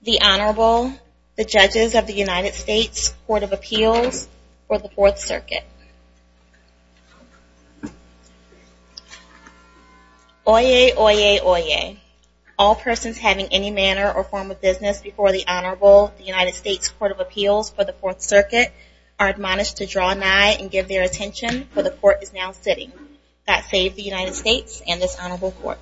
The Honorable, the Judges of the United States Court of Appeals for the Fourth Circuit. Oyez, oyez, oyez. All persons having any manner or form of business before the Honorable, the United States Court of Appeals for the Fourth Circuit, are admonished to draw nigh and give their attention, for the Court is now sitting. That save the United States and this Honorable Court.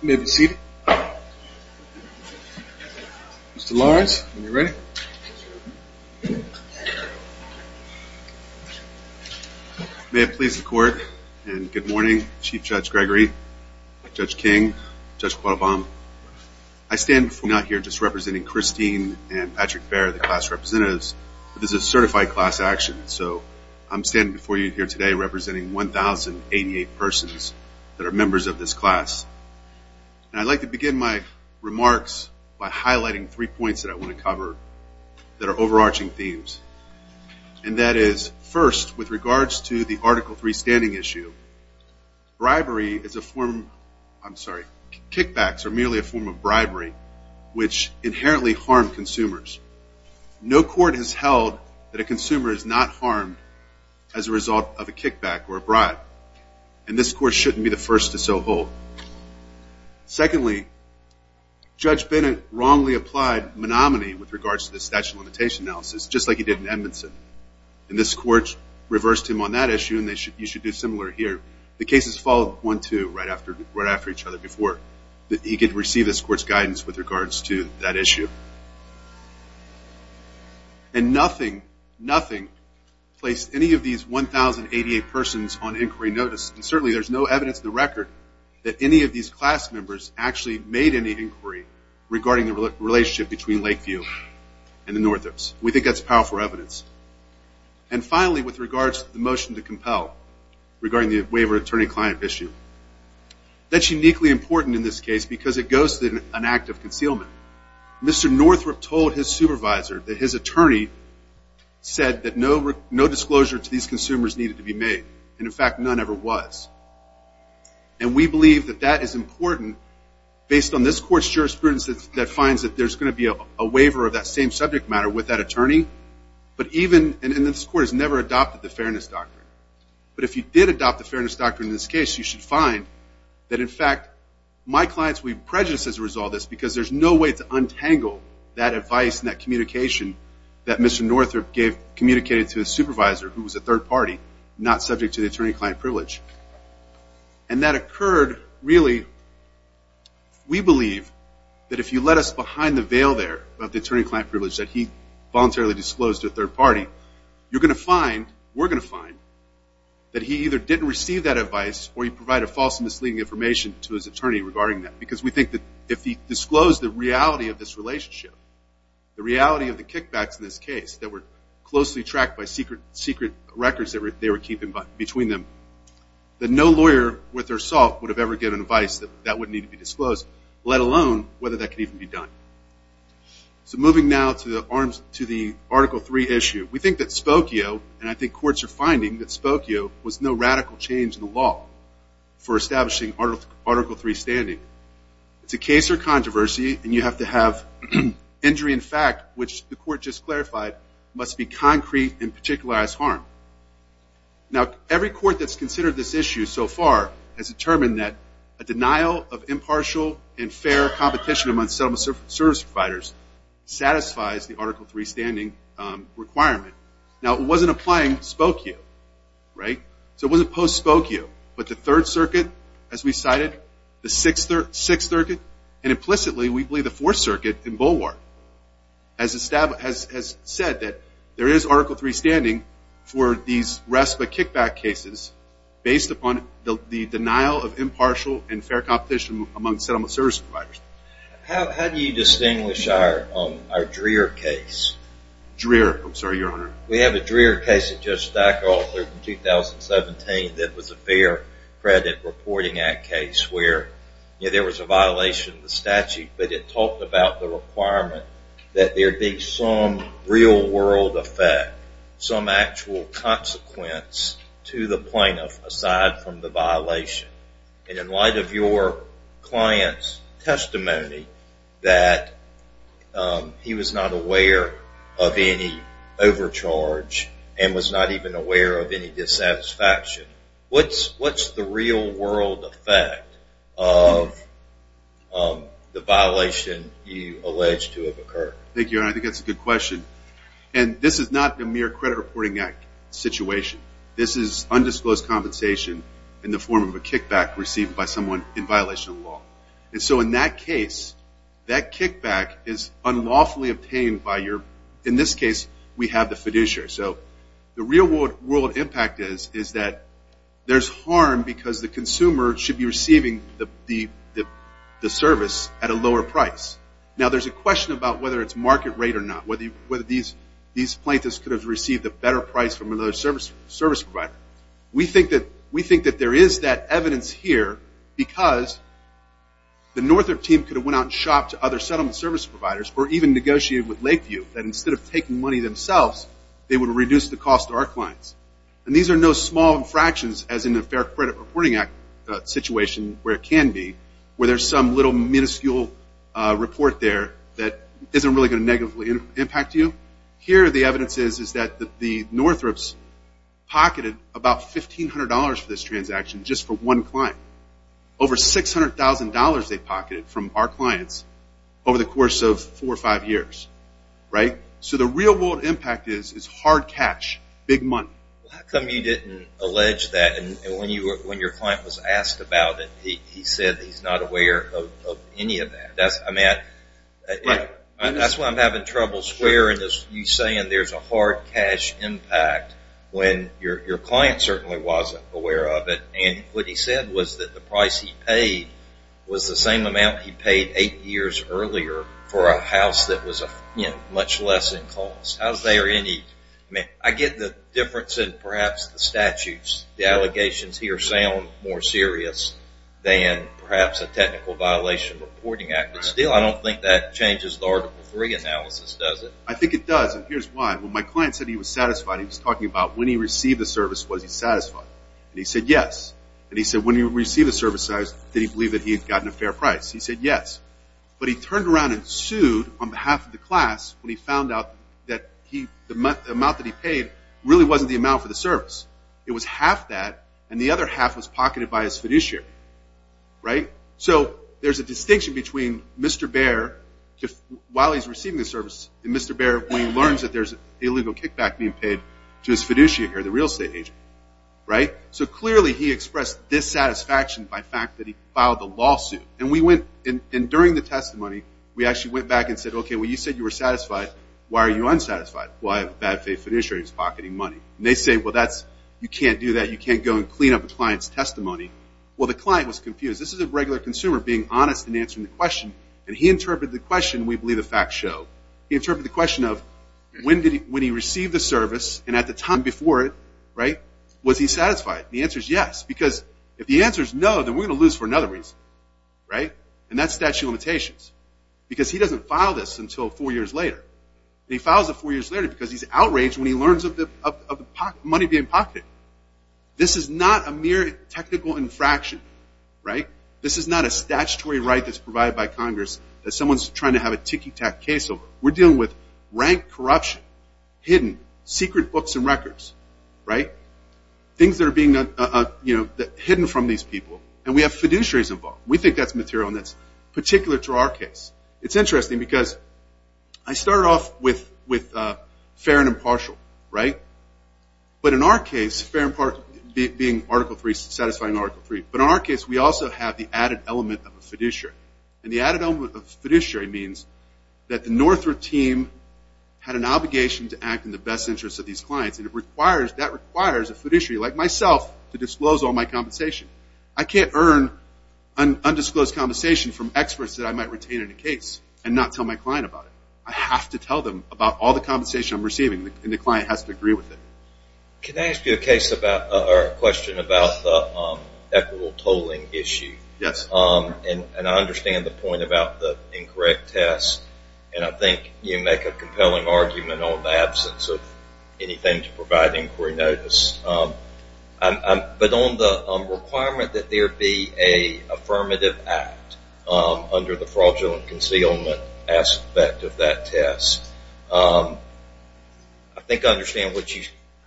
You may be seated. Mr. Lawrence, when you're ready. May it please the Court, and good morning, Chief Judge Gregory, Judge King, Judge Quadobam. I stand before you not just representing Christine and Patrick Baehr, the class representatives, but this is a certified class action, so I'm standing before you here today representing 1,088 persons that are members of this class. And I'd like to begin my remarks by highlighting three points that I want to cover that are overarching themes, and that is, first, with regards to the Article III standing issue, bribery is a form, I'm sorry, kickbacks are merely a form of bribery, which inherently harm consumers. No court has held that a consumer is not harmed as a result of a kickback or a bribe, and this court shouldn't be the first to so hold. Secondly, Judge Bennett wrongly applied monomany with regards to the statute of limitations analysis, just like he did in Edmondson, and this court reversed him on that issue, and you should do similar here. The cases followed one-two right after each other before he could receive this court's guidance with regards to that issue. And nothing, nothing placed any of these 1,088 persons on inquiry notice, and certainly there's no evidence in the record that any of these class members actually made any inquiry regarding the relationship between Lakeview and the Northups. We think that's powerful evidence. And finally, with regards to the motion to compel regarding the waiver attorney-client issue. That's uniquely important in this case because it goes to an act of concealment. Mr. Northup told his supervisor that his attorney said that no disclosure to these consumers needed to be made, and in fact, none ever was. And we believe that that is important based on this court's jurisprudence that finds that there's going to be a waiver of that same subject matter with that attorney, but even, and this court has never adopted the fairness doctrine. But if you did adopt the fairness doctrine in this case, you should find that in fact, my clients would be prejudiced as a result of this because there's no way to untangle that advice and that communication that Mr. Northup gave, communicated to his supervisor, who was a third party, not subject to the attorney-client privilege. And that occurred, really, we believe that if you let us behind the veil there of the attorney-client privilege that he voluntarily disclosed to a third party, you're going to find, we're going to find, that he either didn't receive that advice or he provided false and misleading information to his attorney regarding that. Because we think that if he disclosed the reality of this relationship, the reality of the kickbacks in this case that were closely tracked by secret records that they were keeping between them, that no lawyer with their salt would have ever given advice that that would need to be disclosed, let alone whether that could even be done. So moving now to the Article 3 issue. We think that Spokio, and I think courts are finding that Spokio, was no radical change in the law for establishing Article 3 standing. It's a case of controversy, and you have to have injury in fact, which the court just clarified, must be concrete and particularized harm. Now, every court that's considered this issue so far has determined that a denial of impartial and fair competition among settlement service providers satisfies the Article 3 standing requirement. Now, it wasn't applying Spokio, right? So it wasn't post-Spokio, but the Third Circuit, as we cited, the Sixth Circuit, and implicitly we believe the Fourth Circuit in Bullwark has said that there is Article 3 standing for these respite kickback cases based upon the denial of impartial and fair competition among settlement service providers. How do you distinguish our Dreher case? Dreher. I'm sorry, Your Honor. We have a Dreher case that Judge Steiker authored in 2017 that was a Fair Credit Reporting Act case where there was a violation of the statute, but it talked about the requirement that there be some real-world effect, some actual consequence to the plaintiff aside from the violation. And in light of your client's testimony that he was not aware of any overcharge and was not even aware of any dissatisfaction, what's the real-world effect of the violation you allege to have occurred? Thank you, Your Honor. I think that's a good question. And this is not a mere Credit Reporting Act situation. This is undisclosed compensation in the form of a kickback received by someone in violation of the law. And so in that case, that kickback is unlawfully obtained by your, in this case, we have the fiduciary. So the real-world impact is that there's harm because the consumer should be receiving the service at a lower price. Now, there's a question about whether it's market rate or not, whether these plaintiffs could have received a better price from another service provider. We think that there is that evidence here because the Northrop team could have went out and shopped to other settlement service providers or even negotiated with Lakeview that instead of taking money themselves, they would have reduced the cost to our clients. And these are no small infractions as in the Fair Credit Reporting Act situation where it can be, where there's some little minuscule report there that isn't really going to negatively impact you. Here the evidence is that the Northrops pocketed about $1,500 for this transaction just for one client. Over $600,000 they pocketed from our clients over the course of four or five years. So the real-world impact is hard cash, big money. How come you didn't allege that when your client was asked about it, he said he's not aware of any of that? That's why I'm having trouble swearing that you're saying there's a hard cash impact when your client certainly wasn't aware of it. And what he said was that the price he paid was the same amount he paid eight years earlier for a house that was much less in cost. I get the difference in perhaps the statutes. The allegations here sound more serious than perhaps a technical violation reporting act. But still, I don't think that changes the Article III analysis, does it? I think it does, and here's why. When my client said he was satisfied, he was talking about when he received the service, was he satisfied? And he said yes. And he said when he received the service, did he believe that he had gotten a fair price? He said yes. But he turned around and sued on behalf of the class when he found out that the amount that he paid really wasn't the amount for the service. It was half that, and the other half was pocketed by his fiduciary. So there's a distinction between Mr. Bair while he's receiving the service and Mr. Bair when he learns that there's an illegal kickback being paid to his fiduciary, the real estate agent. So clearly he expressed dissatisfaction by the fact that he filed the lawsuit. And during the testimony, we actually went back and said, okay, well, you said you were satisfied. Why are you unsatisfied? Well, I have a bad faith fiduciary who's pocketing money. And they say, well, you can't do that. You can't go and clean up a client's testimony. Well, the client was confused. This is a regular consumer being honest and answering the question, and he interpreted the question, we believe the facts show. He interpreted the question of when he received the service, and at the time before it, was he satisfied? And the answer is yes, because if the answer is no, then we're going to lose for another reason. Right? And that's statute of limitations, because he doesn't file this until four years later. And he files it four years later because he's outraged when he learns of the money being pocketed. This is not a mere technical infraction. Right? This is not a statutory right that's provided by Congress that someone's trying to have a tiki-tac case over. We're dealing with rank corruption, hidden, secret books and records. Right? Things that are being, you know, hidden from these people. And we have fiduciaries involved. We think that's material, and that's particular to our case. It's interesting because I started off with fair and impartial. Right? But in our case, fair and impartial being Article 3, satisfying Article 3. But in our case, we also have the added element of a fiduciary. And the added element of a fiduciary means that the Northrop team had an obligation to act in the best interest of these clients. And that requires a fiduciary like myself to disclose all my compensation. I can't earn undisclosed compensation from experts that I might retain in a case and not tell my client about it. I have to tell them about all the compensation I'm receiving, and the client has to agree with it. Can I ask you a question about the equitable tolling issue? Yes. And I understand the point about the incorrect test, and I think you make a compelling argument on the absence of anything to provide inquiry notice. But on the requirement that there be an affirmative act under the fraudulent concealment aspect of that test, I think I understand what you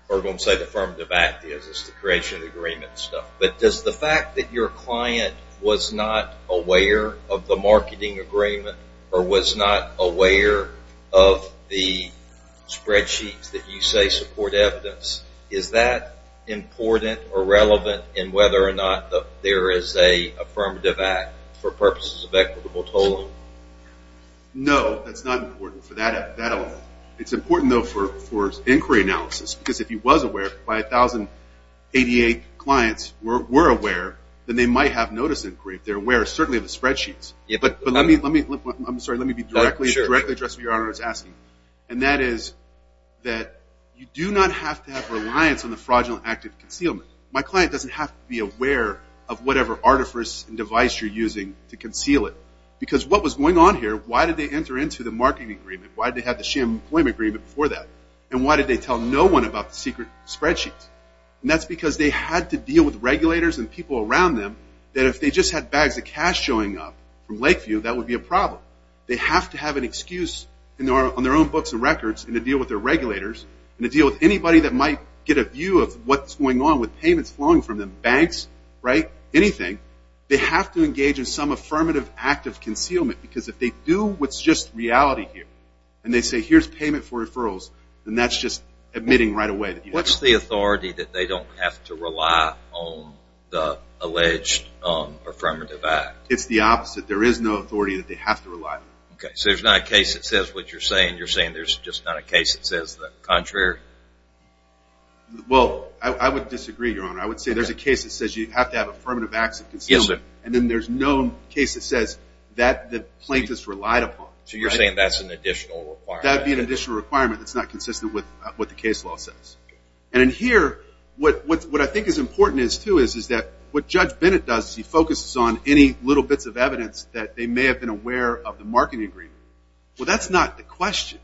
are going to say the affirmative act is. It's the creation of the agreement stuff. But does the fact that your client was not aware of the marketing agreement or was not aware of the spreadsheets that you say support evidence, is that important or relevant in whether or not there is an affirmative act for purposes of equitable tolling? No. That's not important for that element. It's important, though, for inquiry analysis, because if he was aware by 1,088 clients were aware, then they might have notice inquiry. They're aware, certainly, of the spreadsheets. But let me be directly addressed to your Honor in asking. And that is that you do not have to have reliance on the fraudulent active concealment. My client doesn't have to be aware of whatever artifice and device you're using to conceal it. Because what was going on here, why did they enter into the marketing agreement? Why did they have the sham employment agreement before that? And why did they tell no one about the secret spreadsheets? And that's because they had to deal with regulators and people around them that if they just had bags of cash showing up from Lakeview, that would be a problem. They have to have an excuse on their own books and records and to deal with their regulators and to deal with anybody that might get a view of what's going on with payments flowing from them, banks, right, anything. They have to engage in some affirmative active concealment because if they do what's just reality here and they say, here's payment for referrals, then that's just admitting right away. What's the authority that they don't have to rely on the alleged affirmative act? It's the opposite. There is no authority that they have to rely on. Okay, so there's not a case that says what you're saying. You're saying there's just not a case that says the contrary? Well, I would disagree, Your Honor. I would say there's a case that says you have to have affirmative acts of concealment. Yes, sir. And then there's no case that says that the plaintiff's relied upon. So you're saying that's an additional requirement. That would be an additional requirement that's not consistent with what the case law says. And in here, what I think is important, too, is that what Judge Bennett does, he focuses on any little bits of evidence that they may have been aware of the marketing agreement. Well, that's not the question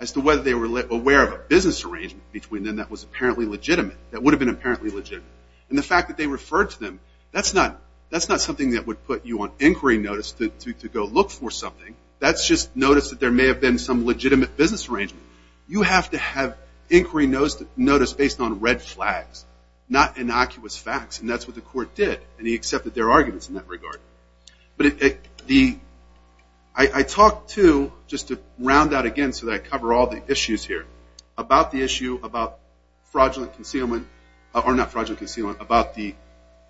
as to whether they were aware of a business arrangement between them that was apparently legitimate, that would have been apparently legitimate. And the fact that they referred to them, that's not something that would put you on inquiry notice to go look for something. That's just notice that there may have been some legitimate business arrangement. You have to have inquiry notice based on red flags, not innocuous facts, and that's what the court did. And he accepted their arguments in that regard. But I talk, too, just to round out again so that I cover all the issues here, about the issue about fraudulent concealment, or not fraudulent concealment, about the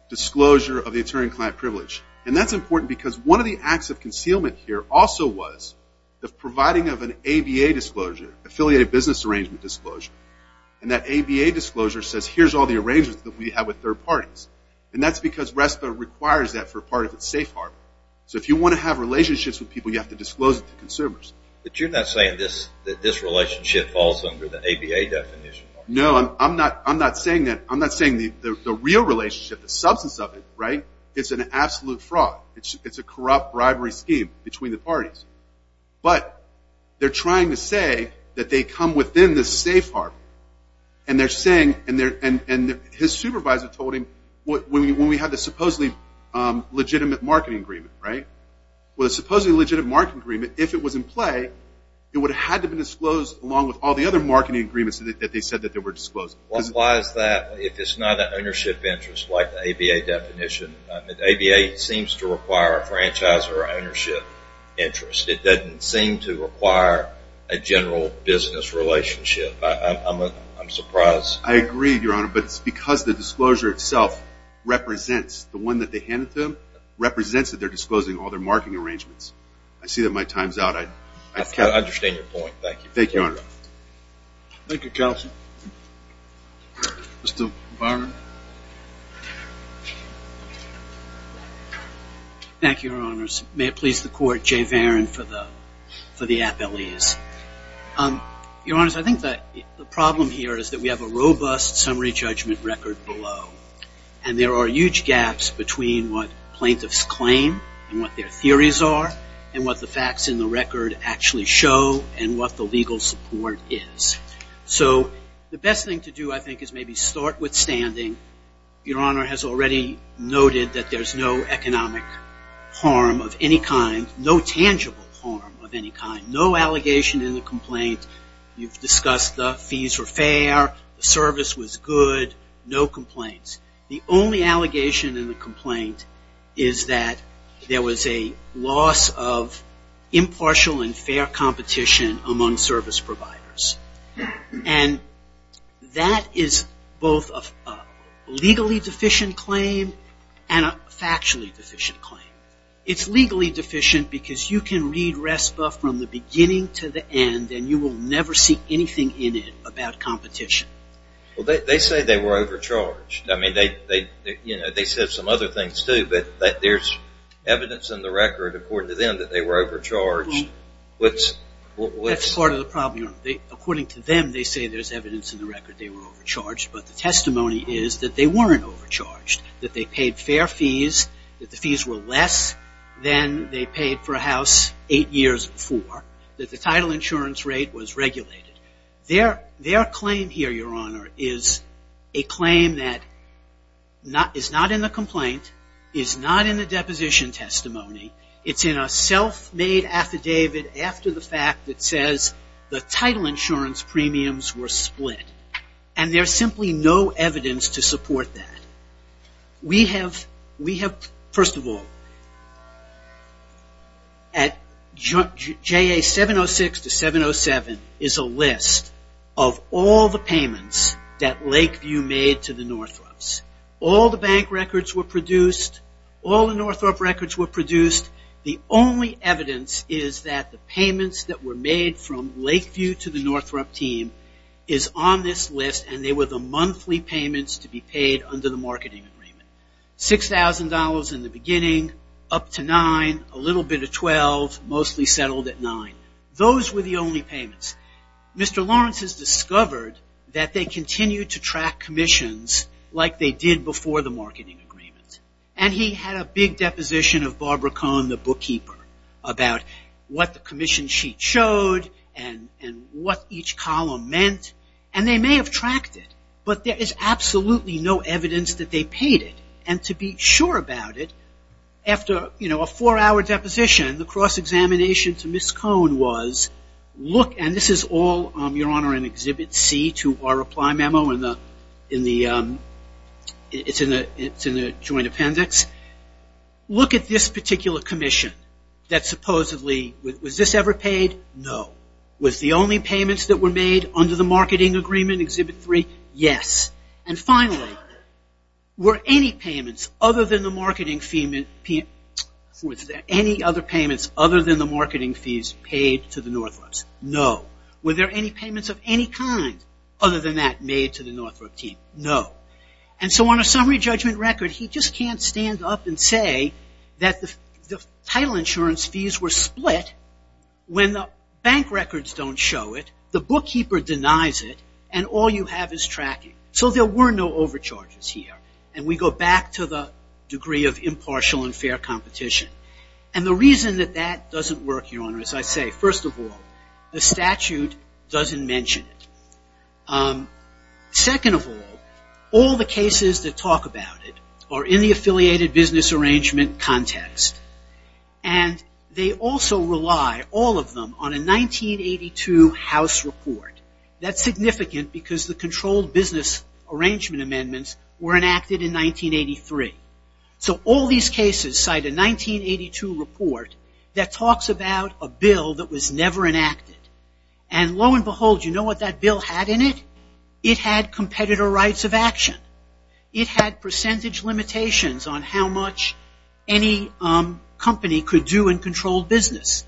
disclosure of the attorney-client privilege. And that's important because one of the acts of concealment here also was the providing of an ABA disclosure, Affiliated Business Arrangement Disclosure. And that ABA disclosure says here's all the arrangements that we have with third parties. And that's because RESPA requires that for part of its safe harbor. So if you want to have relationships with people, you have to disclose it to consumers. But you're not saying that this relationship falls under the ABA definition? No, I'm not saying that. I'm not saying the real relationship, the substance of it, right, is an absolute fraud. It's a corrupt bribery scheme between the parties. But they're trying to say that they come within the safe harbor. And they're saying, and his supervisor told him, when we had the supposedly legitimate marketing agreement, right, with a supposedly legitimate marketing agreement, if it was in play, it would have had to be disclosed along with all the other marketing agreements that they said that they were disclosing. Why is that if it's not an ownership interest like the ABA definition? The ABA seems to require a franchise or ownership interest. It doesn't seem to require a general business relationship. I'm surprised. I agree, Your Honor. But it's because the disclosure itself represents the one that they handed to them, represents that they're disclosing all their marketing arrangements. I see that my time's out. I understand your point. Thank you. Thank you, Your Honor. Thank you, counsel. Mr. Varon. Thank you, Your Honors. May it please the Court, Jay Varon for the appellees. Your Honors, I think the problem here is that we have a robust summary judgment record below. And there are huge gaps between what plaintiffs claim and what their theories are and what the facts in the record actually show and what the legal support is. So the best thing to do, I think, is maybe start with standing. Your Honor has already noted that there's no economic harm of any kind, no tangible harm of any kind, no allegation in the complaint. You've discussed the fees were fair, the service was good, no complaints. The only allegation in the complaint is that there was a loss of impartial and fair competition among service providers. And that is both a legally deficient claim and a factually deficient claim. It's legally deficient because you can read RESPA from the beginning to the end and you will never see anything in it about competition. Well, they say they were overcharged. I mean, they said some other things, too, but there's evidence in the record, according to them, that they were overcharged. That's part of the problem. According to them, they say there's evidence in the record they were overcharged, but the testimony is that they weren't overcharged, that they paid fair fees, that the fees were less than they paid for a house eight years before, that the title insurance rate was regulated. Their claim here, Your Honor, is a claim that is not in the complaint, is not in the deposition testimony. It's in a self-made affidavit after the fact that says the title insurance premiums were split. And there's simply no evidence to support that. We have, first of all, at JA 706 to 707 is a list of all the payments that Lakeview made to the Northrop's. All the bank records were produced. All the Northrop records were produced. The only evidence is that the payments that were made from Lakeview to the Northrop team is on this list, and they were the monthly payments to be paid under the marketing agreement. $6,000 in the beginning, up to $9,000, a little bit of $12,000, mostly settled at $9,000. Those were the only payments. Mr. Lawrence has discovered that they continued to track commissions like they did before the marketing agreement. And he had a big deposition of Barbara Cohn, the bookkeeper, about what the commission sheet showed and what each column meant. And they may have tracked it, but there is absolutely no evidence that they paid it. And to be sure about it, after, you know, a four-hour deposition, the cross-examination to Ms. Cohn was, look, and this is all, Your Honor, in Exhibit C to our reply memo. It's in the joint appendix. Look at this particular commission that supposedly, was this ever paid? No. Was the only payments that were made under the marketing agreement, Exhibit 3? Yes. And finally, were any other payments other than the marketing fees paid to the Northrops? No. Were there any payments of any kind other than that made to the Northrop team? No. And so on a summary judgment record, he just can't stand up and say that the title insurance fees were split when the bank records don't show it, the bookkeeper denies it, and all you have is tracking. So there were no overcharges here. And we go back to the degree of impartial and fair competition. And the reason that that doesn't work, Your Honor, as I say, first of all, the statute doesn't mention it. Second of all, all the cases that talk about it are in the affiliated business arrangement context. And they also rely, all of them, on a 1982 House report. That's significant because the controlled business arrangement amendments were enacted in 1983. So all these cases cite a 1982 report that talks about a bill that was never enacted. And lo and behold, you know what that bill had in it? It had competitor rights of action. It had percentage limitations on how much any company could do in controlled business.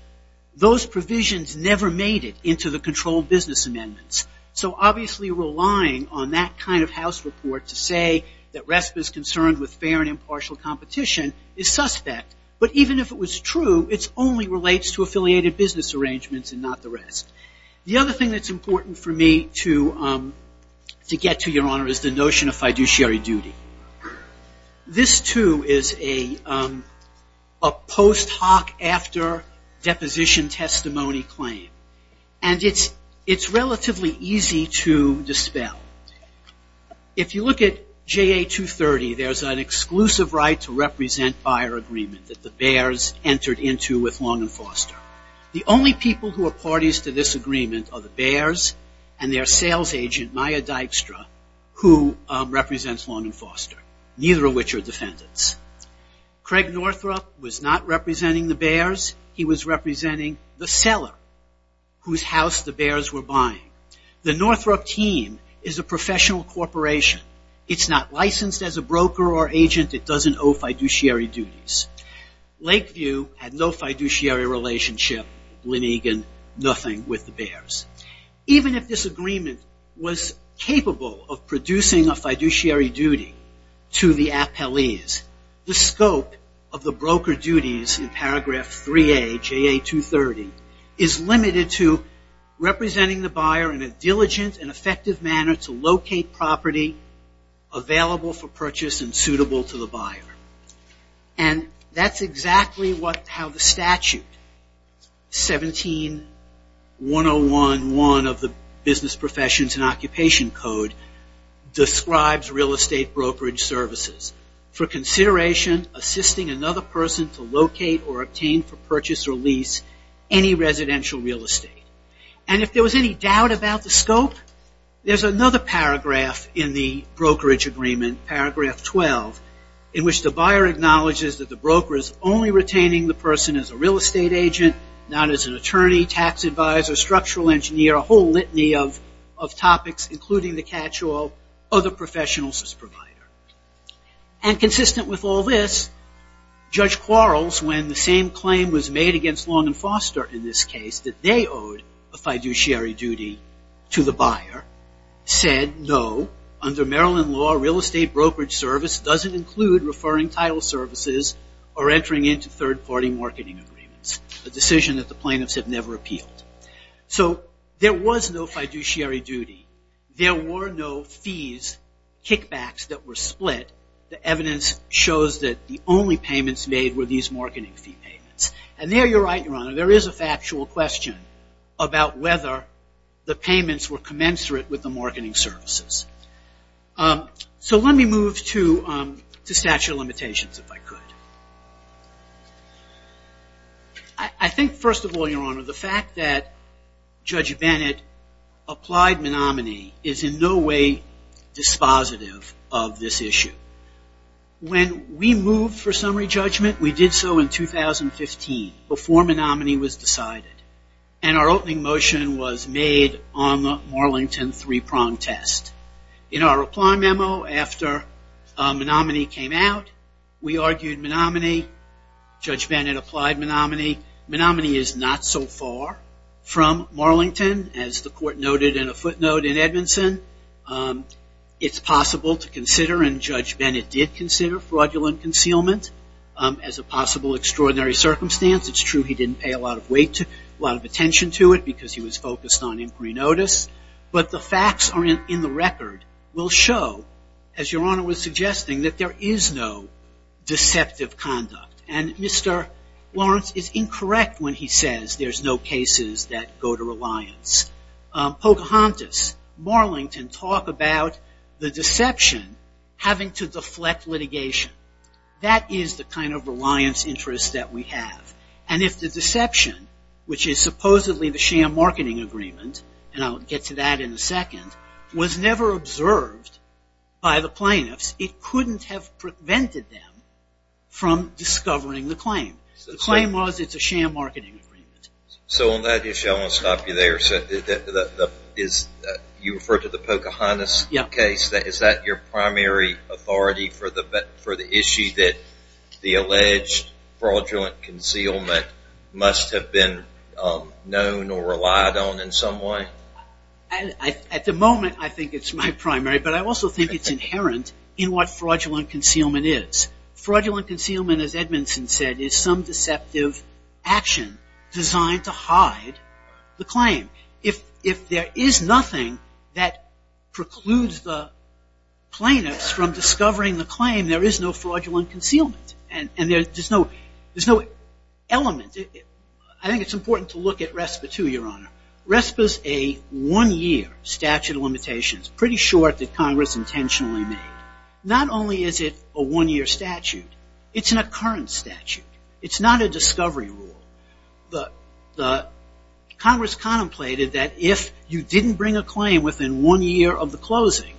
Those provisions never made it into the controlled business amendments. So obviously relying on that kind of House report to say that RESPA is concerned with fair and impartial competition is suspect. But even if it was true, it only relates to affiliated business arrangements and not the rest. The other thing that's important for me to get to, Your Honor, is the notion of fiduciary duty. This, too, is a post hoc after deposition testimony claim. And it's relatively easy to dispel. If you look at JA 230, there's an exclusive right to represent buyer agreement that the Bears entered into with Long and Foster. The only people who are parties to this agreement are the Bears and their sales agent, Maya Dykstra, who represents Long and Foster, neither of which are defendants. Craig Northrup was not representing the Bears. He was representing the seller whose house the Bears were buying. The Northrup team is a professional corporation. It's not licensed as a broker or agent. It doesn't owe fiduciary duties. Lakeview had no fiduciary relationship. Lenegan, nothing with the Bears. Even if this agreement was capable of producing a fiduciary duty to the appellees, the scope of the broker duties in paragraph 3A, JA 230, is limited to representing the buyer in a diligent and effective manner to locate property available for purchase and suitable to the buyer. And that's exactly how the statute, 17-101-1 of the Business Professions and Occupation Code, describes real estate brokerage services. For consideration, assisting another person to locate or obtain for any residential real estate. And if there was any doubt about the scope, there's another paragraph in the brokerage agreement, paragraph 12, in which the buyer acknowledges that the broker is only retaining the person as a real estate agent, not as an attorney, tax advisor, structural engineer, a whole litany of topics, including the catch-all, other professionals as provider. And consistent with all this, Judge Quarles, when the same claim was made against Long and Foster in this case, that they owed a fiduciary duty to the buyer, said no, under Maryland law, real estate brokerage service doesn't include referring title services or entering into third-party marketing agreements, a decision that the plaintiffs have never appealed. So there was no fiduciary duty. There were no fees, kickbacks that were split. The evidence shows that the only payments made were these marketing fee payments. And there you're right, Your Honor, there is a factual question about whether the payments were commensurate with the marketing services. So let me move to statute of limitations, if I could. I think, first of all, Your Honor, the fact that Judge Bennett applied Menominee is in no way dispositive of this issue. When we moved for summary judgment, we did so in 2015, before Menominee was decided. And our opening motion was made on the Marlington three-prong test. In our reply memo after Menominee came out, we argued Menominee. Judge Bennett applied Menominee. Menominee is not so far from Marlington, as the court noted in a footnote in Edmondson. It's possible to consider, and Judge Bennett did consider, fraudulent concealment as a possible extraordinary circumstance. It's true he didn't pay a lot of attention to it because he was focused on inquiry notice. But the facts in the record will show, as Your Honor was suggesting, that there is no deceptive conduct. And Mr. Lawrence is incorrect when he says there's no cases that go to reliance. Pocahontas, Marlington talk about the deception having to deflect litigation. That is the kind of reliance interest that we have. And if the deception, which is supposedly the sham marketing agreement, and I'll get to that in a second, was never observed by the plaintiffs, it couldn't have prevented them from discovering the claim. The claim was it's a sham marketing agreement. So on that issue, I want to stop you there. You referred to the Pocahontas case. Is that your primary authority for the issue that the alleged fraudulent concealment must have been known or relied on in some way? At the moment, I think it's my primary. But I also think it's inherent in what fraudulent concealment is. Fraudulent concealment, as Edmondson said, is some deceptive action designed to hide the claim. If there is nothing that precludes the plaintiffs from discovering the claim, there is no fraudulent concealment. And there's no element. I think it's important to look at RESPA too, Your Honor. RESPA is a one-year statute of limitations, pretty short that Congress intentionally made. Not only is it a one-year statute, it's an occurrence statute. It's not a discovery rule. Congress contemplated that if you didn't bring a claim within one year of the closing,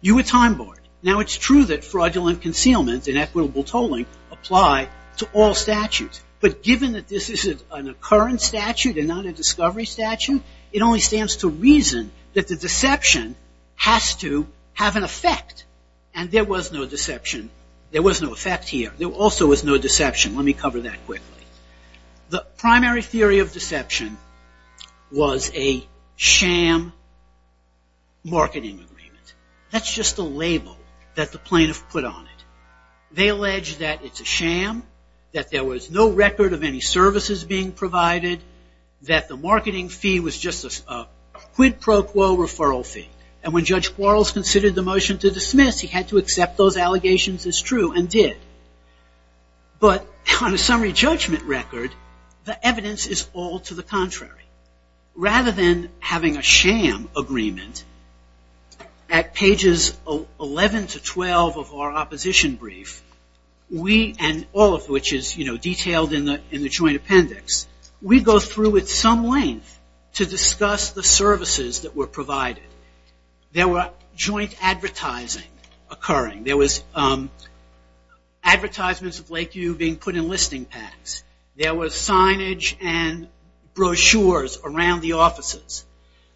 you were time-barred. Now, it's true that fraudulent concealment and equitable tolling apply to all statutes. But given that this is an occurrence statute and not a discovery statute, it only stands to reason that the deception has to have an effect. And there was no deception. There was no effect here. There also was no deception. Let me cover that quickly. The primary theory of deception was a sham marketing agreement. That's just a label that the plaintiff put on it. They allege that it's a sham, that there was no record of any services being provided, that the marketing fee was just a quid pro quo referral fee. And when Judge Quarles considered the motion to dismiss, he had to accept those allegations as true and did. But on a summary judgment record, the evidence is all to the contrary. Rather than having a sham agreement, at pages 11 to 12 of our opposition brief, we and all of which is detailed in the joint appendix, we go through at some length to discuss the services that were provided. There were joint advertising occurring. There was advertisements of Lakeview being put in listing packs. There was signage and brochures around the offices.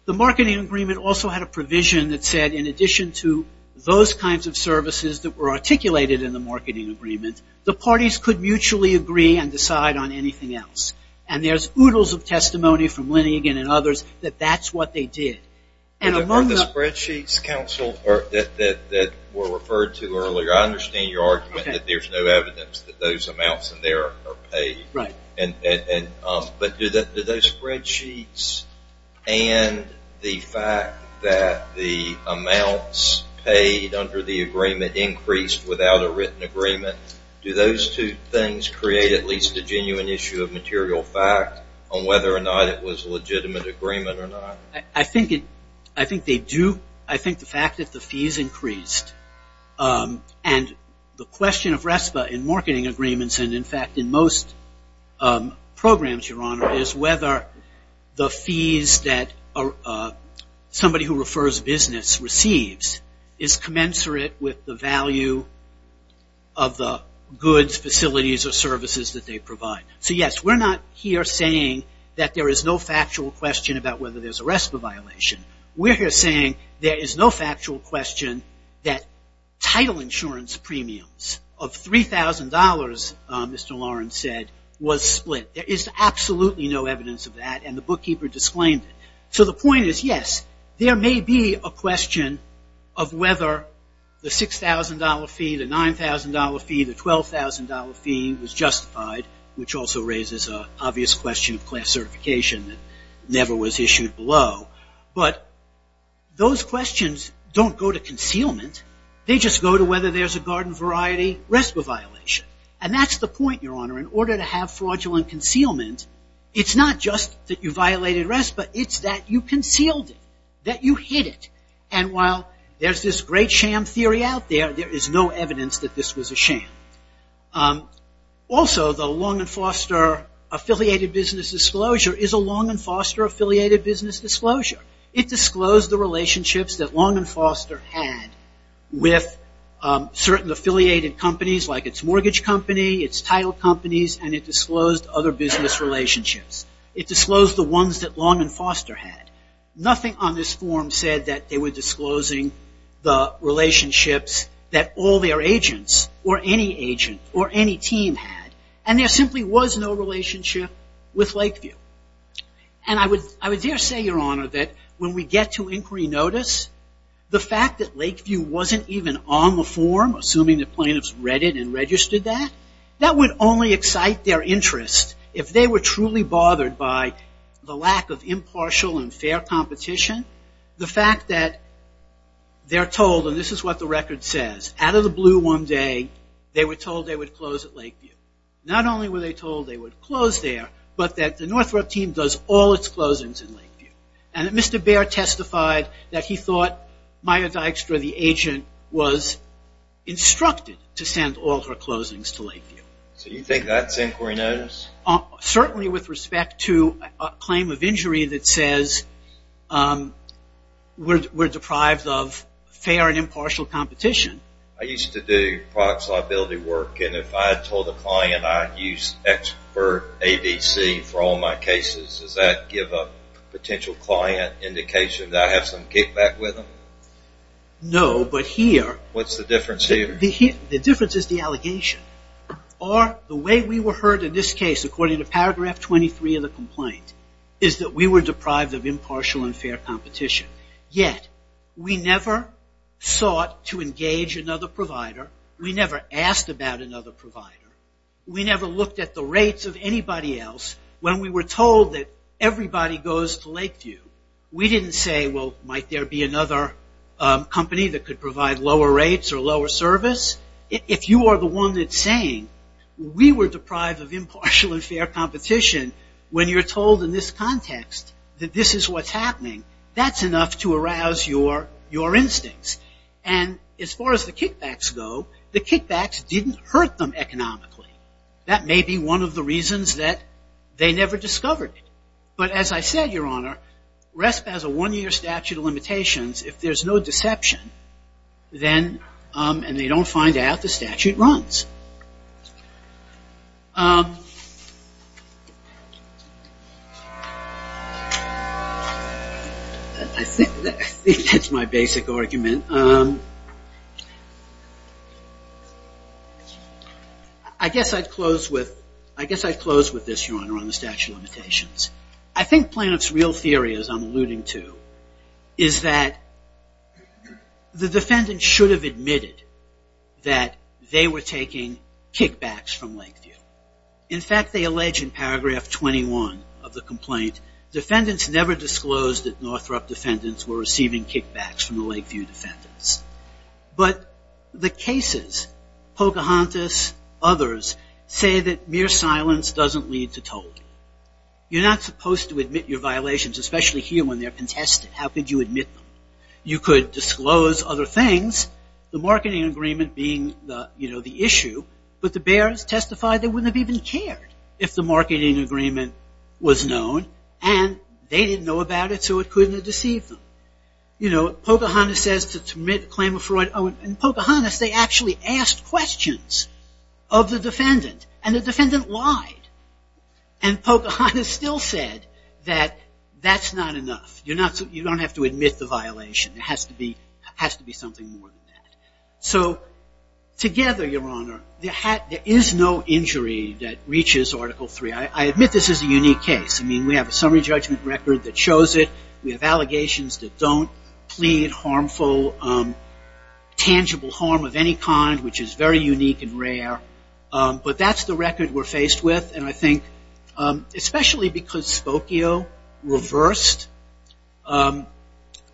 The marketing agreement also had a provision that said, in addition to those kinds of services that were articulated in the marketing agreement, the parties could mutually agree and decide on anything else. And there's oodles of testimony from Linnegan and others that that's what they did. And among the spreadsheets, counsel, that were referred to earlier, I understand your argument that there's no evidence that those amounts in there are paid. But do those spreadsheets and the fact that the amounts paid under the agreement increased without a written agreement, do those two things create at least a genuine issue of material fact on whether or not it was a legitimate agreement or not? I think they do. I think the fact that the fees increased and the question of RESPA in marketing agreements and in fact in most programs, Your Honor, is whether the fees that somebody who refers business receives is commensurate with the value of the goods, facilities or services that they provide. So yes, we're not here saying that there is no factual question about whether there's a RESPA violation. We're here saying there is no factual question that title insurance premiums of $3,000, Mr. Lawrence said, was split. There is absolutely no evidence of that and the bookkeeper disclaimed it. So the point is yes, there may be a question of whether the $6,000 fee, the $9,000 fee, the $12,000 fee was justified, which also raises an obvious question of class certification that never was issued below, but those questions don't go to concealment. They just go to whether there's a garden variety RESPA violation and that's the point, Your Honor. In order to have fraudulent concealment, it's not just that you violated RESPA, it's that you concealed it, that you hid it and while there's this great sham theory out there, there is no evidence that this was a sham. Also, the Long and Foster Affiliated Business Disclosure is a Long and Foster Affiliated Business Disclosure. It disclosed the relationships that Long and Foster had with certain affiliated companies like its mortgage company, its title companies and it disclosed other business relationships. It disclosed the ones that Long and Foster had. Nothing on this form said that they were disclosing the relationships that all their agents or any agent or any team had and there simply was no relationship with Lakeview. And I would dare say, Your Honor, that when we get to inquiry notice, the fact that Lakeview wasn't even on the form, assuming the plaintiffs read it and registered that, that would only excite their interest if they were truly bothered by the lack of impartial and fair competition. The fact that they're told, and this is what the record says, out of the blue one day, they were told they would close at Lakeview. Not only were they told they would close there, but that the Northrop team does all its closings in Lakeview. And that Mr. Baer testified that he thought Maya Dykstra, the agent, was instructed to send all her closings to Lakeview. So you think that's inquiry notice? Certainly with respect to a claim of injury that says we're deprived of fair and impartial competition. I used to do product liability work and if I told a client I use expert ABC for all my cases, does that give a potential client indication that I have some kickback with them? No, but here... What's the difference here? The difference is the allegation. Or the way we were heard in this case, according to paragraph 23 of the complaint, is that we were deprived of impartial and fair competition. Yet we never sought to engage another provider. We never asked about another provider. We never looked at the rates of anybody else. When we were told that everybody goes to Lakeview, we didn't say, well, might there be another company that could provide lower rates or lower service? If you are the one that's saying we were deprived of impartial and fair competition when you're told in this context that this is what's happening, that's enough to arouse your instincts. And as far as the kickbacks go, the kickbacks didn't hurt them economically. That may be one of the reasons that they never discovered it. But as I said, Your Honor, RESP has a one-year statute of limitations. If there's no deception and they don't find out, the statute runs. I think that's my basic argument. I guess I'd close with this, Your Honor, on the statute of limitations. I think Planoff's real theory, as I'm alluding to, is that the defendant should have admitted that they were taking kickbacks from Lakeview. In fact, they allege in paragraph 21 of the complaint, defendants never disclosed that Northrop defendants were receiving kickbacks from the Lakeview defendants. But the cases, Pocahontas, others, say that mere silence doesn't lead to told. You're not supposed to admit your violations, especially here when they're contested. How could you admit them? You could disclose other things, the marketing agreement being the issue, but the Bears testified they wouldn't have even cared if the marketing agreement was known and they didn't know about it so it couldn't have deceived them. Pocahontas says to commit a claim of fraud. In Pocahontas, they actually asked questions of the defendant and the defendant lied. And Pocahontas still said that that's not enough. You don't have to admit the violation. There has to be something more than that. So together, Your Honor, there is no injury that reaches Article III. I admit this is a unique case. I mean, we have a summary judgment record that shows it. We have allegations that don't plead harmful, tangible harm of any kind, which is very unique and rare. But that's the record we're faced with, and I think especially because Spokio reversed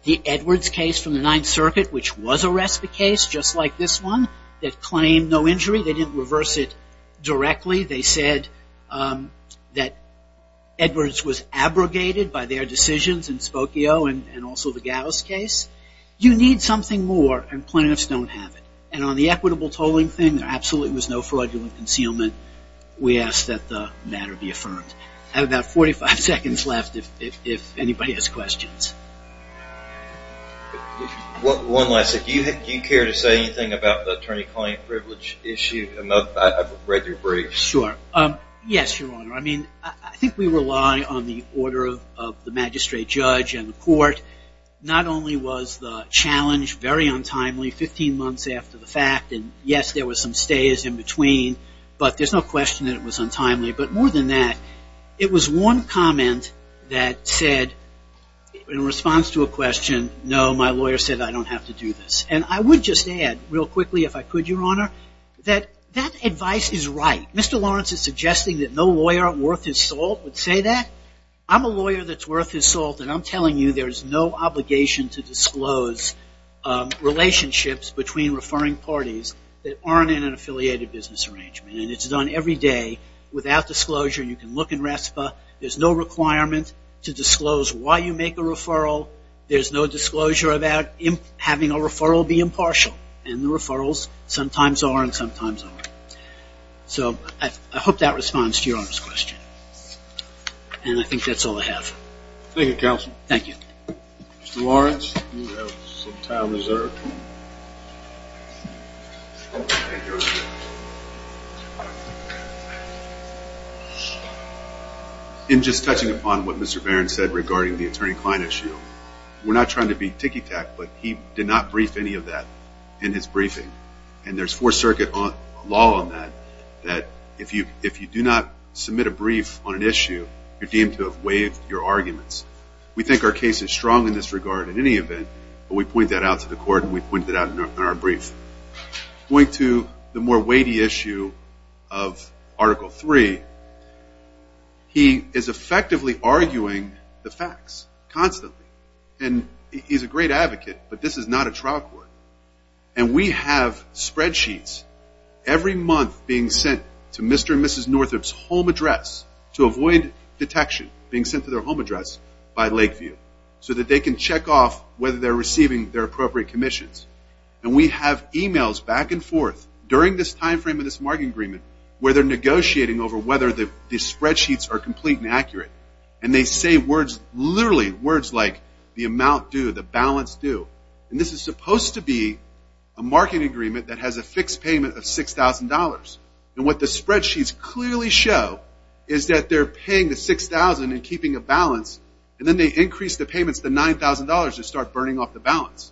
the Edwards case from the Ninth Circuit, which was a respite case, just like this one, that claimed no injury. They didn't reverse it directly. They said that Edwards was abrogated by their decisions in Spokio and also the Gauss case. You need something more, and plaintiffs don't have it. And on the equitable tolling thing, there absolutely was no fraudulent concealment. We ask that the matter be affirmed. I have about 45 seconds left if anybody has questions. One last thing. Do you care to say anything about the attorney-client privilege issue? I've read your brief. Sure. Yes, Your Honor. I mean, I think we rely on the order of the magistrate judge and the court. Not only was the challenge very untimely 15 months after the fact, and yes, there were some stays in between, but there's no question that it was untimely. But more than that, it was one comment that said, in response to a question, no, my lawyer said, I don't have to do this. And I would just add, real quickly if I could, Your Honor, that that advice is right. Mr. Lawrence is suggesting that no lawyer worth his salt would say that. I'm a lawyer that's worth his salt, and I'm telling you there's no obligation to disclose relationships between referring parties that aren't in an affiliated business arrangement. And it's done every day without disclosure. You can look in RESPA. There's no requirement to disclose why you make a referral. There's no disclosure about having a referral be impartial. And the referrals sometimes are and sometimes aren't. So I hope that responds to Your Honor's question. And I think that's all I have. Thank you, counsel. Thank you. Mr. Lawrence, you have some time reserved. In just touching upon what Mr. Barron said regarding the attorney-client issue, we're not trying to be ticky-tack, but he did not brief any of that in his briefing. And there's Fourth Circuit law on that, that if you do not submit a brief on an issue, you're deemed to have waived your arguments. We think our case is strong in this regard in any event, but we point that out to the court and we point that out in our brief. Going to the more weighty issue of Article 3, he is effectively arguing the facts constantly. And he's a great advocate, but this is not a trial court. And we have spreadsheets every month being sent to Mr. and Mrs. Northup's home address to avoid detection being sent to their home address by Lakeview so that they can check off whether they're receiving their appropriate commissions. And we have emails back and forth during this time frame of this market agreement where they're negotiating over whether the spreadsheets are complete and accurate. And they say words, literally words like, the amount due, the balance due. And this is supposed to be a market agreement that has a fixed payment of $6,000. And what the spreadsheets clearly show is that they're paying the $6,000 and keeping a balance, and then they increase the payments to $9,000 to start burning off the balance.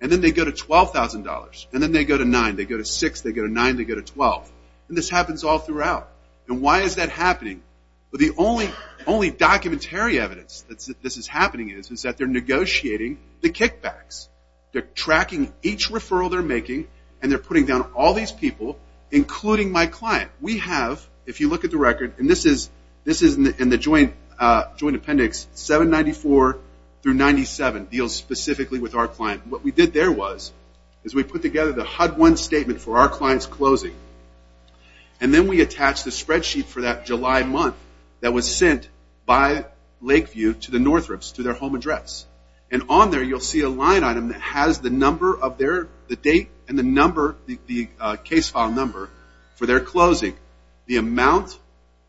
And then they go to $12,000. And then they go to $9,000. They go to $6,000. They go to $9,000. They go to $12,000. And this happens all throughout. And why is that happening? Well, the only documentary evidence that this is happening is that they're negotiating the kickbacks. They're tracking each referral they're making, and they're putting down all these people, including my client. We have, if you look at the record, and this is in the joint appendix, 794 through 97 deals specifically with our client. What we did there was is we put together the HUD-1 statement for our client's closing. And then we attached a spreadsheet for that July month that was sent by Lakeview to the Northrop's, to their home address. And on there you'll see a line item that has the number of their, the date and the number, the case file number for their closing, the amount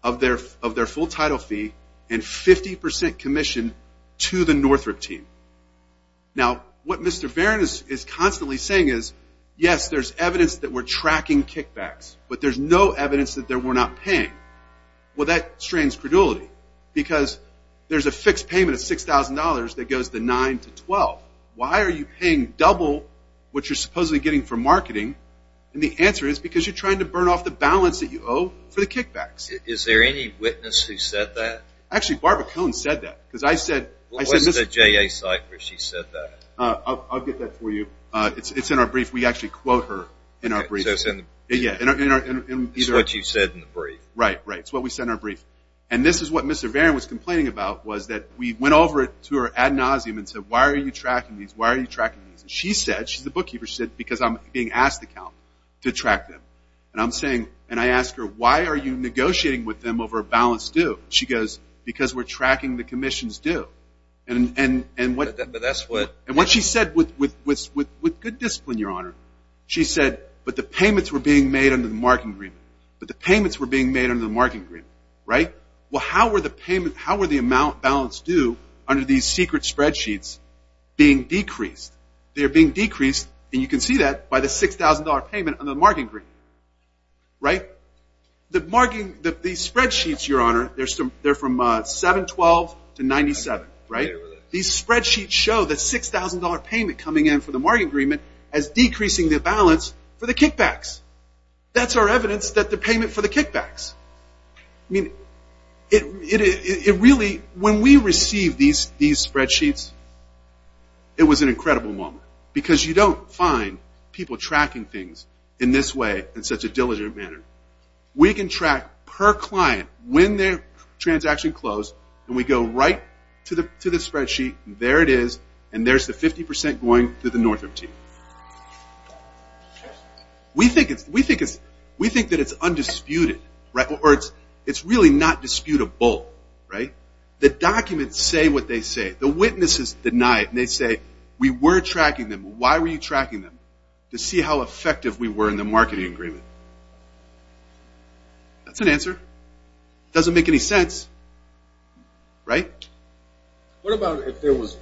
of their full title fee, and 50% commission to the Northrop team. Now, what Mr. Varon is constantly saying is, yes, there's evidence that we're tracking kickbacks, but there's no evidence that we're not paying. Well, that strains credulity because there's a fixed payment of $6,000 that goes to 9 to 12. Why are you paying double what you're supposedly getting for marketing? And the answer is because you're trying to burn off the balance that you owe for the kickbacks. Is there any witness who said that? Actually, Barbara Cohn said that. What was the JA site where she said that? I'll get that for you. It's in our brief. We actually quote her in our brief. It's what you said in the brief. Right, right. It's what we said in our brief. And this is what Mr. Varon was complaining about was that we went over it ad nauseum and said, why are you tracking these? Why are you tracking these? And she said, she's the bookkeeper, she said, because I'm being asked to track them. And I'm saying, and I ask her, why are you negotiating with them over a balance due? She goes, because we're tracking the commission's due. And what she said with good discipline, Your Honor, she said, but the payments were being made under the marketing agreement. But the payments were being made under the marketing agreement, right? Well, how were the payment, how were the amount balance due under these secret spreadsheets being decreased? They're being decreased, and you can see that, by the $6,000 payment under the marketing agreement. Right? The marketing, these spreadsheets, Your Honor, they're from 7-12 to 97, right? These spreadsheets show the $6,000 payment coming in for the marketing agreement as decreasing the balance for the kickbacks. That's our evidence that the payment for the kickbacks. I mean, it really, when we received these spreadsheets, it was an incredible moment. Because you don't find people tracking things in this way, in such a diligent manner. We can track per client, when their transaction closed, and we go right to the spreadsheet, and there it is, and there's the 50% going to the Northrop team. We think that it's undisputed, or it's really not disputable, right? The documents say what they say. The witnesses deny it, and they say, we were tracking them. Why were you tracking them? To see how effective we were in the marketing agreement. That's an answer. Doesn't make any sense. Right? What about if it was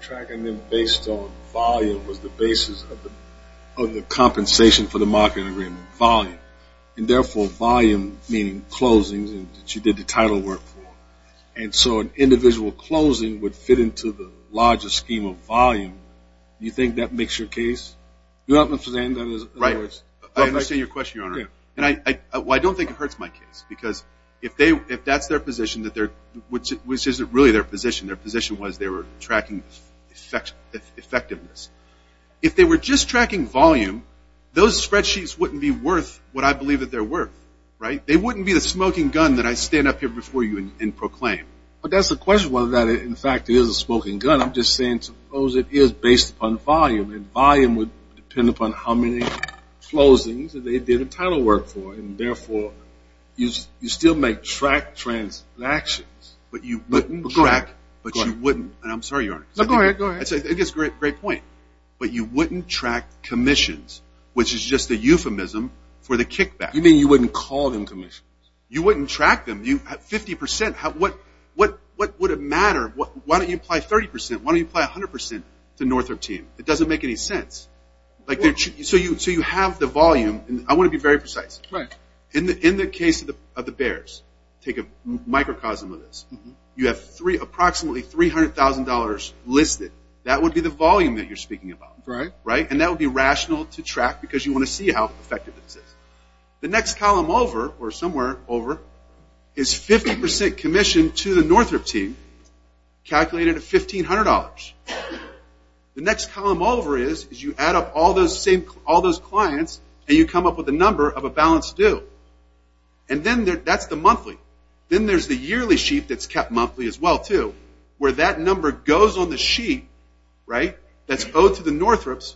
tracking them based on volume was the basis of the compensation for the marketing agreement? Volume. And therefore, volume meaning closings that you did the title work for. And so an individual closing would fit into the larger scheme of volume. Do you think that makes your case? Right. I understand your question, Your Honor. I don't think it hurts my case, because if that's their position, which isn't really their position, their position was they were tracking effectiveness. If they were just tracking volume, those spreadsheets wouldn't be worth what I believe that they're worth. Right? They wouldn't be the smoking gun that I stand up here before you and proclaim. But that's the question, whether or not, in fact, it is a smoking gun. I'm just saying, suppose it is based upon volume, and volume would depend upon how many closings they did the title work for, and, therefore, you still make track transactions. But you wouldn't track. But go ahead. But you wouldn't. And I'm sorry, Your Honor. No, go ahead. Go ahead. It's a great point. But you wouldn't track commissions, which is just a euphemism for the kickback. You mean you wouldn't call them commissions? You wouldn't track them. You have 50%. What would it matter? Why don't you apply 30%? Why don't you apply 100% to Northrop team? It doesn't make any sense. So you have the volume, and I want to be very precise. Right. In the case of the Bears, take a microcosm of this, you have approximately $300,000 listed. That would be the volume that you're speaking about. Right. Right? And that would be rational to track because you want to see how effective this is. The next column over, or somewhere over, is 50% commission to the Northrop team, calculated at $1,500. The next column over is you add up all those clients, and you come up with a number of a balanced due. And then that's the monthly. Then there's the yearly sheet that's kept monthly as well, too, where that number goes on the sheet, right, that's owed to the Northrops,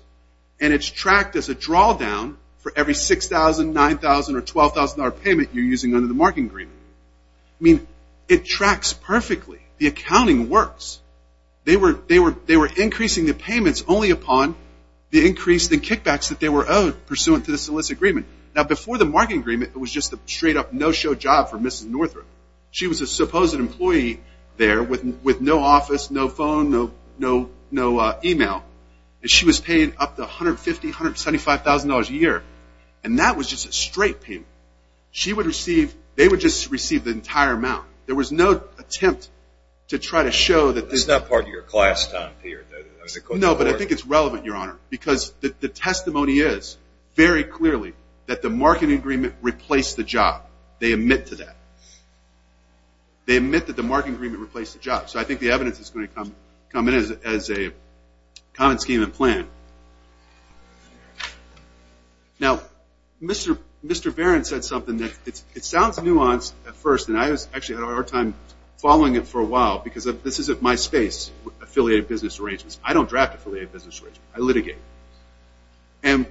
and it's tracked as a drawdown for every $6,000, $9,000, or $12,000 payment you're using under the market agreement. I mean, it tracks perfectly. The accounting works. They were increasing the payments only upon the increase, the kickbacks that they were owed pursuant to the solicit agreement. Now, before the market agreement, it was just a straight-up no-show job for Mrs. Northrop. She was a supposed employee there with no office, no phone, no email, and she was paid up to $150,000, $175,000 a year, and that was just a straight payment. She would receive, they would just receive the entire amount. There was no attempt to try to show that this. It's not part of your class time period. No, but I think it's relevant, Your Honor, because the testimony is very clearly that the market agreement replaced the job. They admit to that. They admit that the market agreement replaced the job. So I think the evidence is going to come in as a common scheme and plan. Now, Mr. Barron said something that it sounds nuanced at first, and I actually had a hard time following it for a while because this isn't my space with affiliated business arrangements. I don't draft affiliated business arrangements. I litigate. And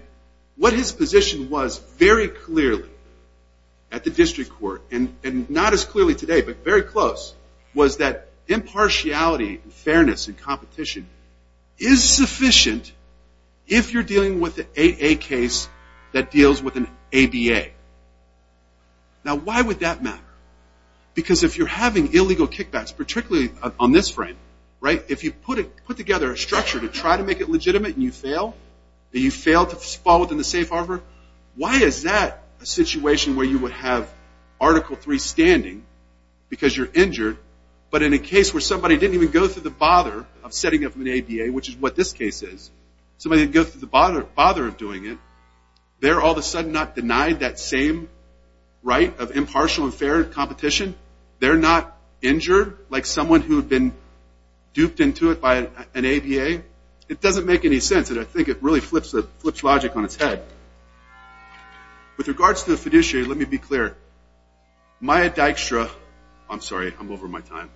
what his position was very clearly at the district court, and not as clearly today but very close, was that impartiality and fairness and competition is sufficient if you're dealing with an AA case that deals with an ABA. Now, why would that matter? Because if you're having illegal kickbacks, particularly on this frame, right, if you put together a structure to try to make it legitimate and you fail, and you fail to fall within the safe harbor, why is that a situation where you would have Article III standing because you're injured, but in a case where somebody didn't even go through the bother of setting up an ABA, which is what this case is, somebody didn't go through the bother of doing it, they're all of a sudden not denied that same right of impartial and fair competition. They're not injured like someone who had been duped into it by an ABA. It doesn't make any sense, and I think it really flips logic on its head. With regards to the fiduciary, let me be clear. Myra Dykstra, I'm sorry, I'm over my time.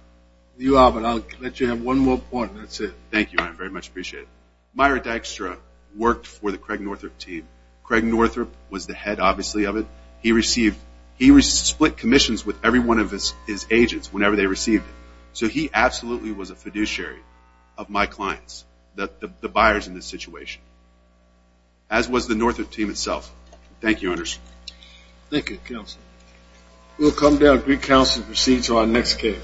You are, but I'll let you have one more point, and that's it. Thank you, Myra. I very much appreciate it. Myra Dykstra worked for the Craig Northrup team. Craig Northrup was the head, obviously, of it. He split commissions with every one of his agents whenever they received it, so he absolutely was a fiduciary of my clients, the buyers in this situation, as was the Northrup team itself. Thank you, Honors. Thank you, Counselor. We'll come down to recounsel and proceed to our next case.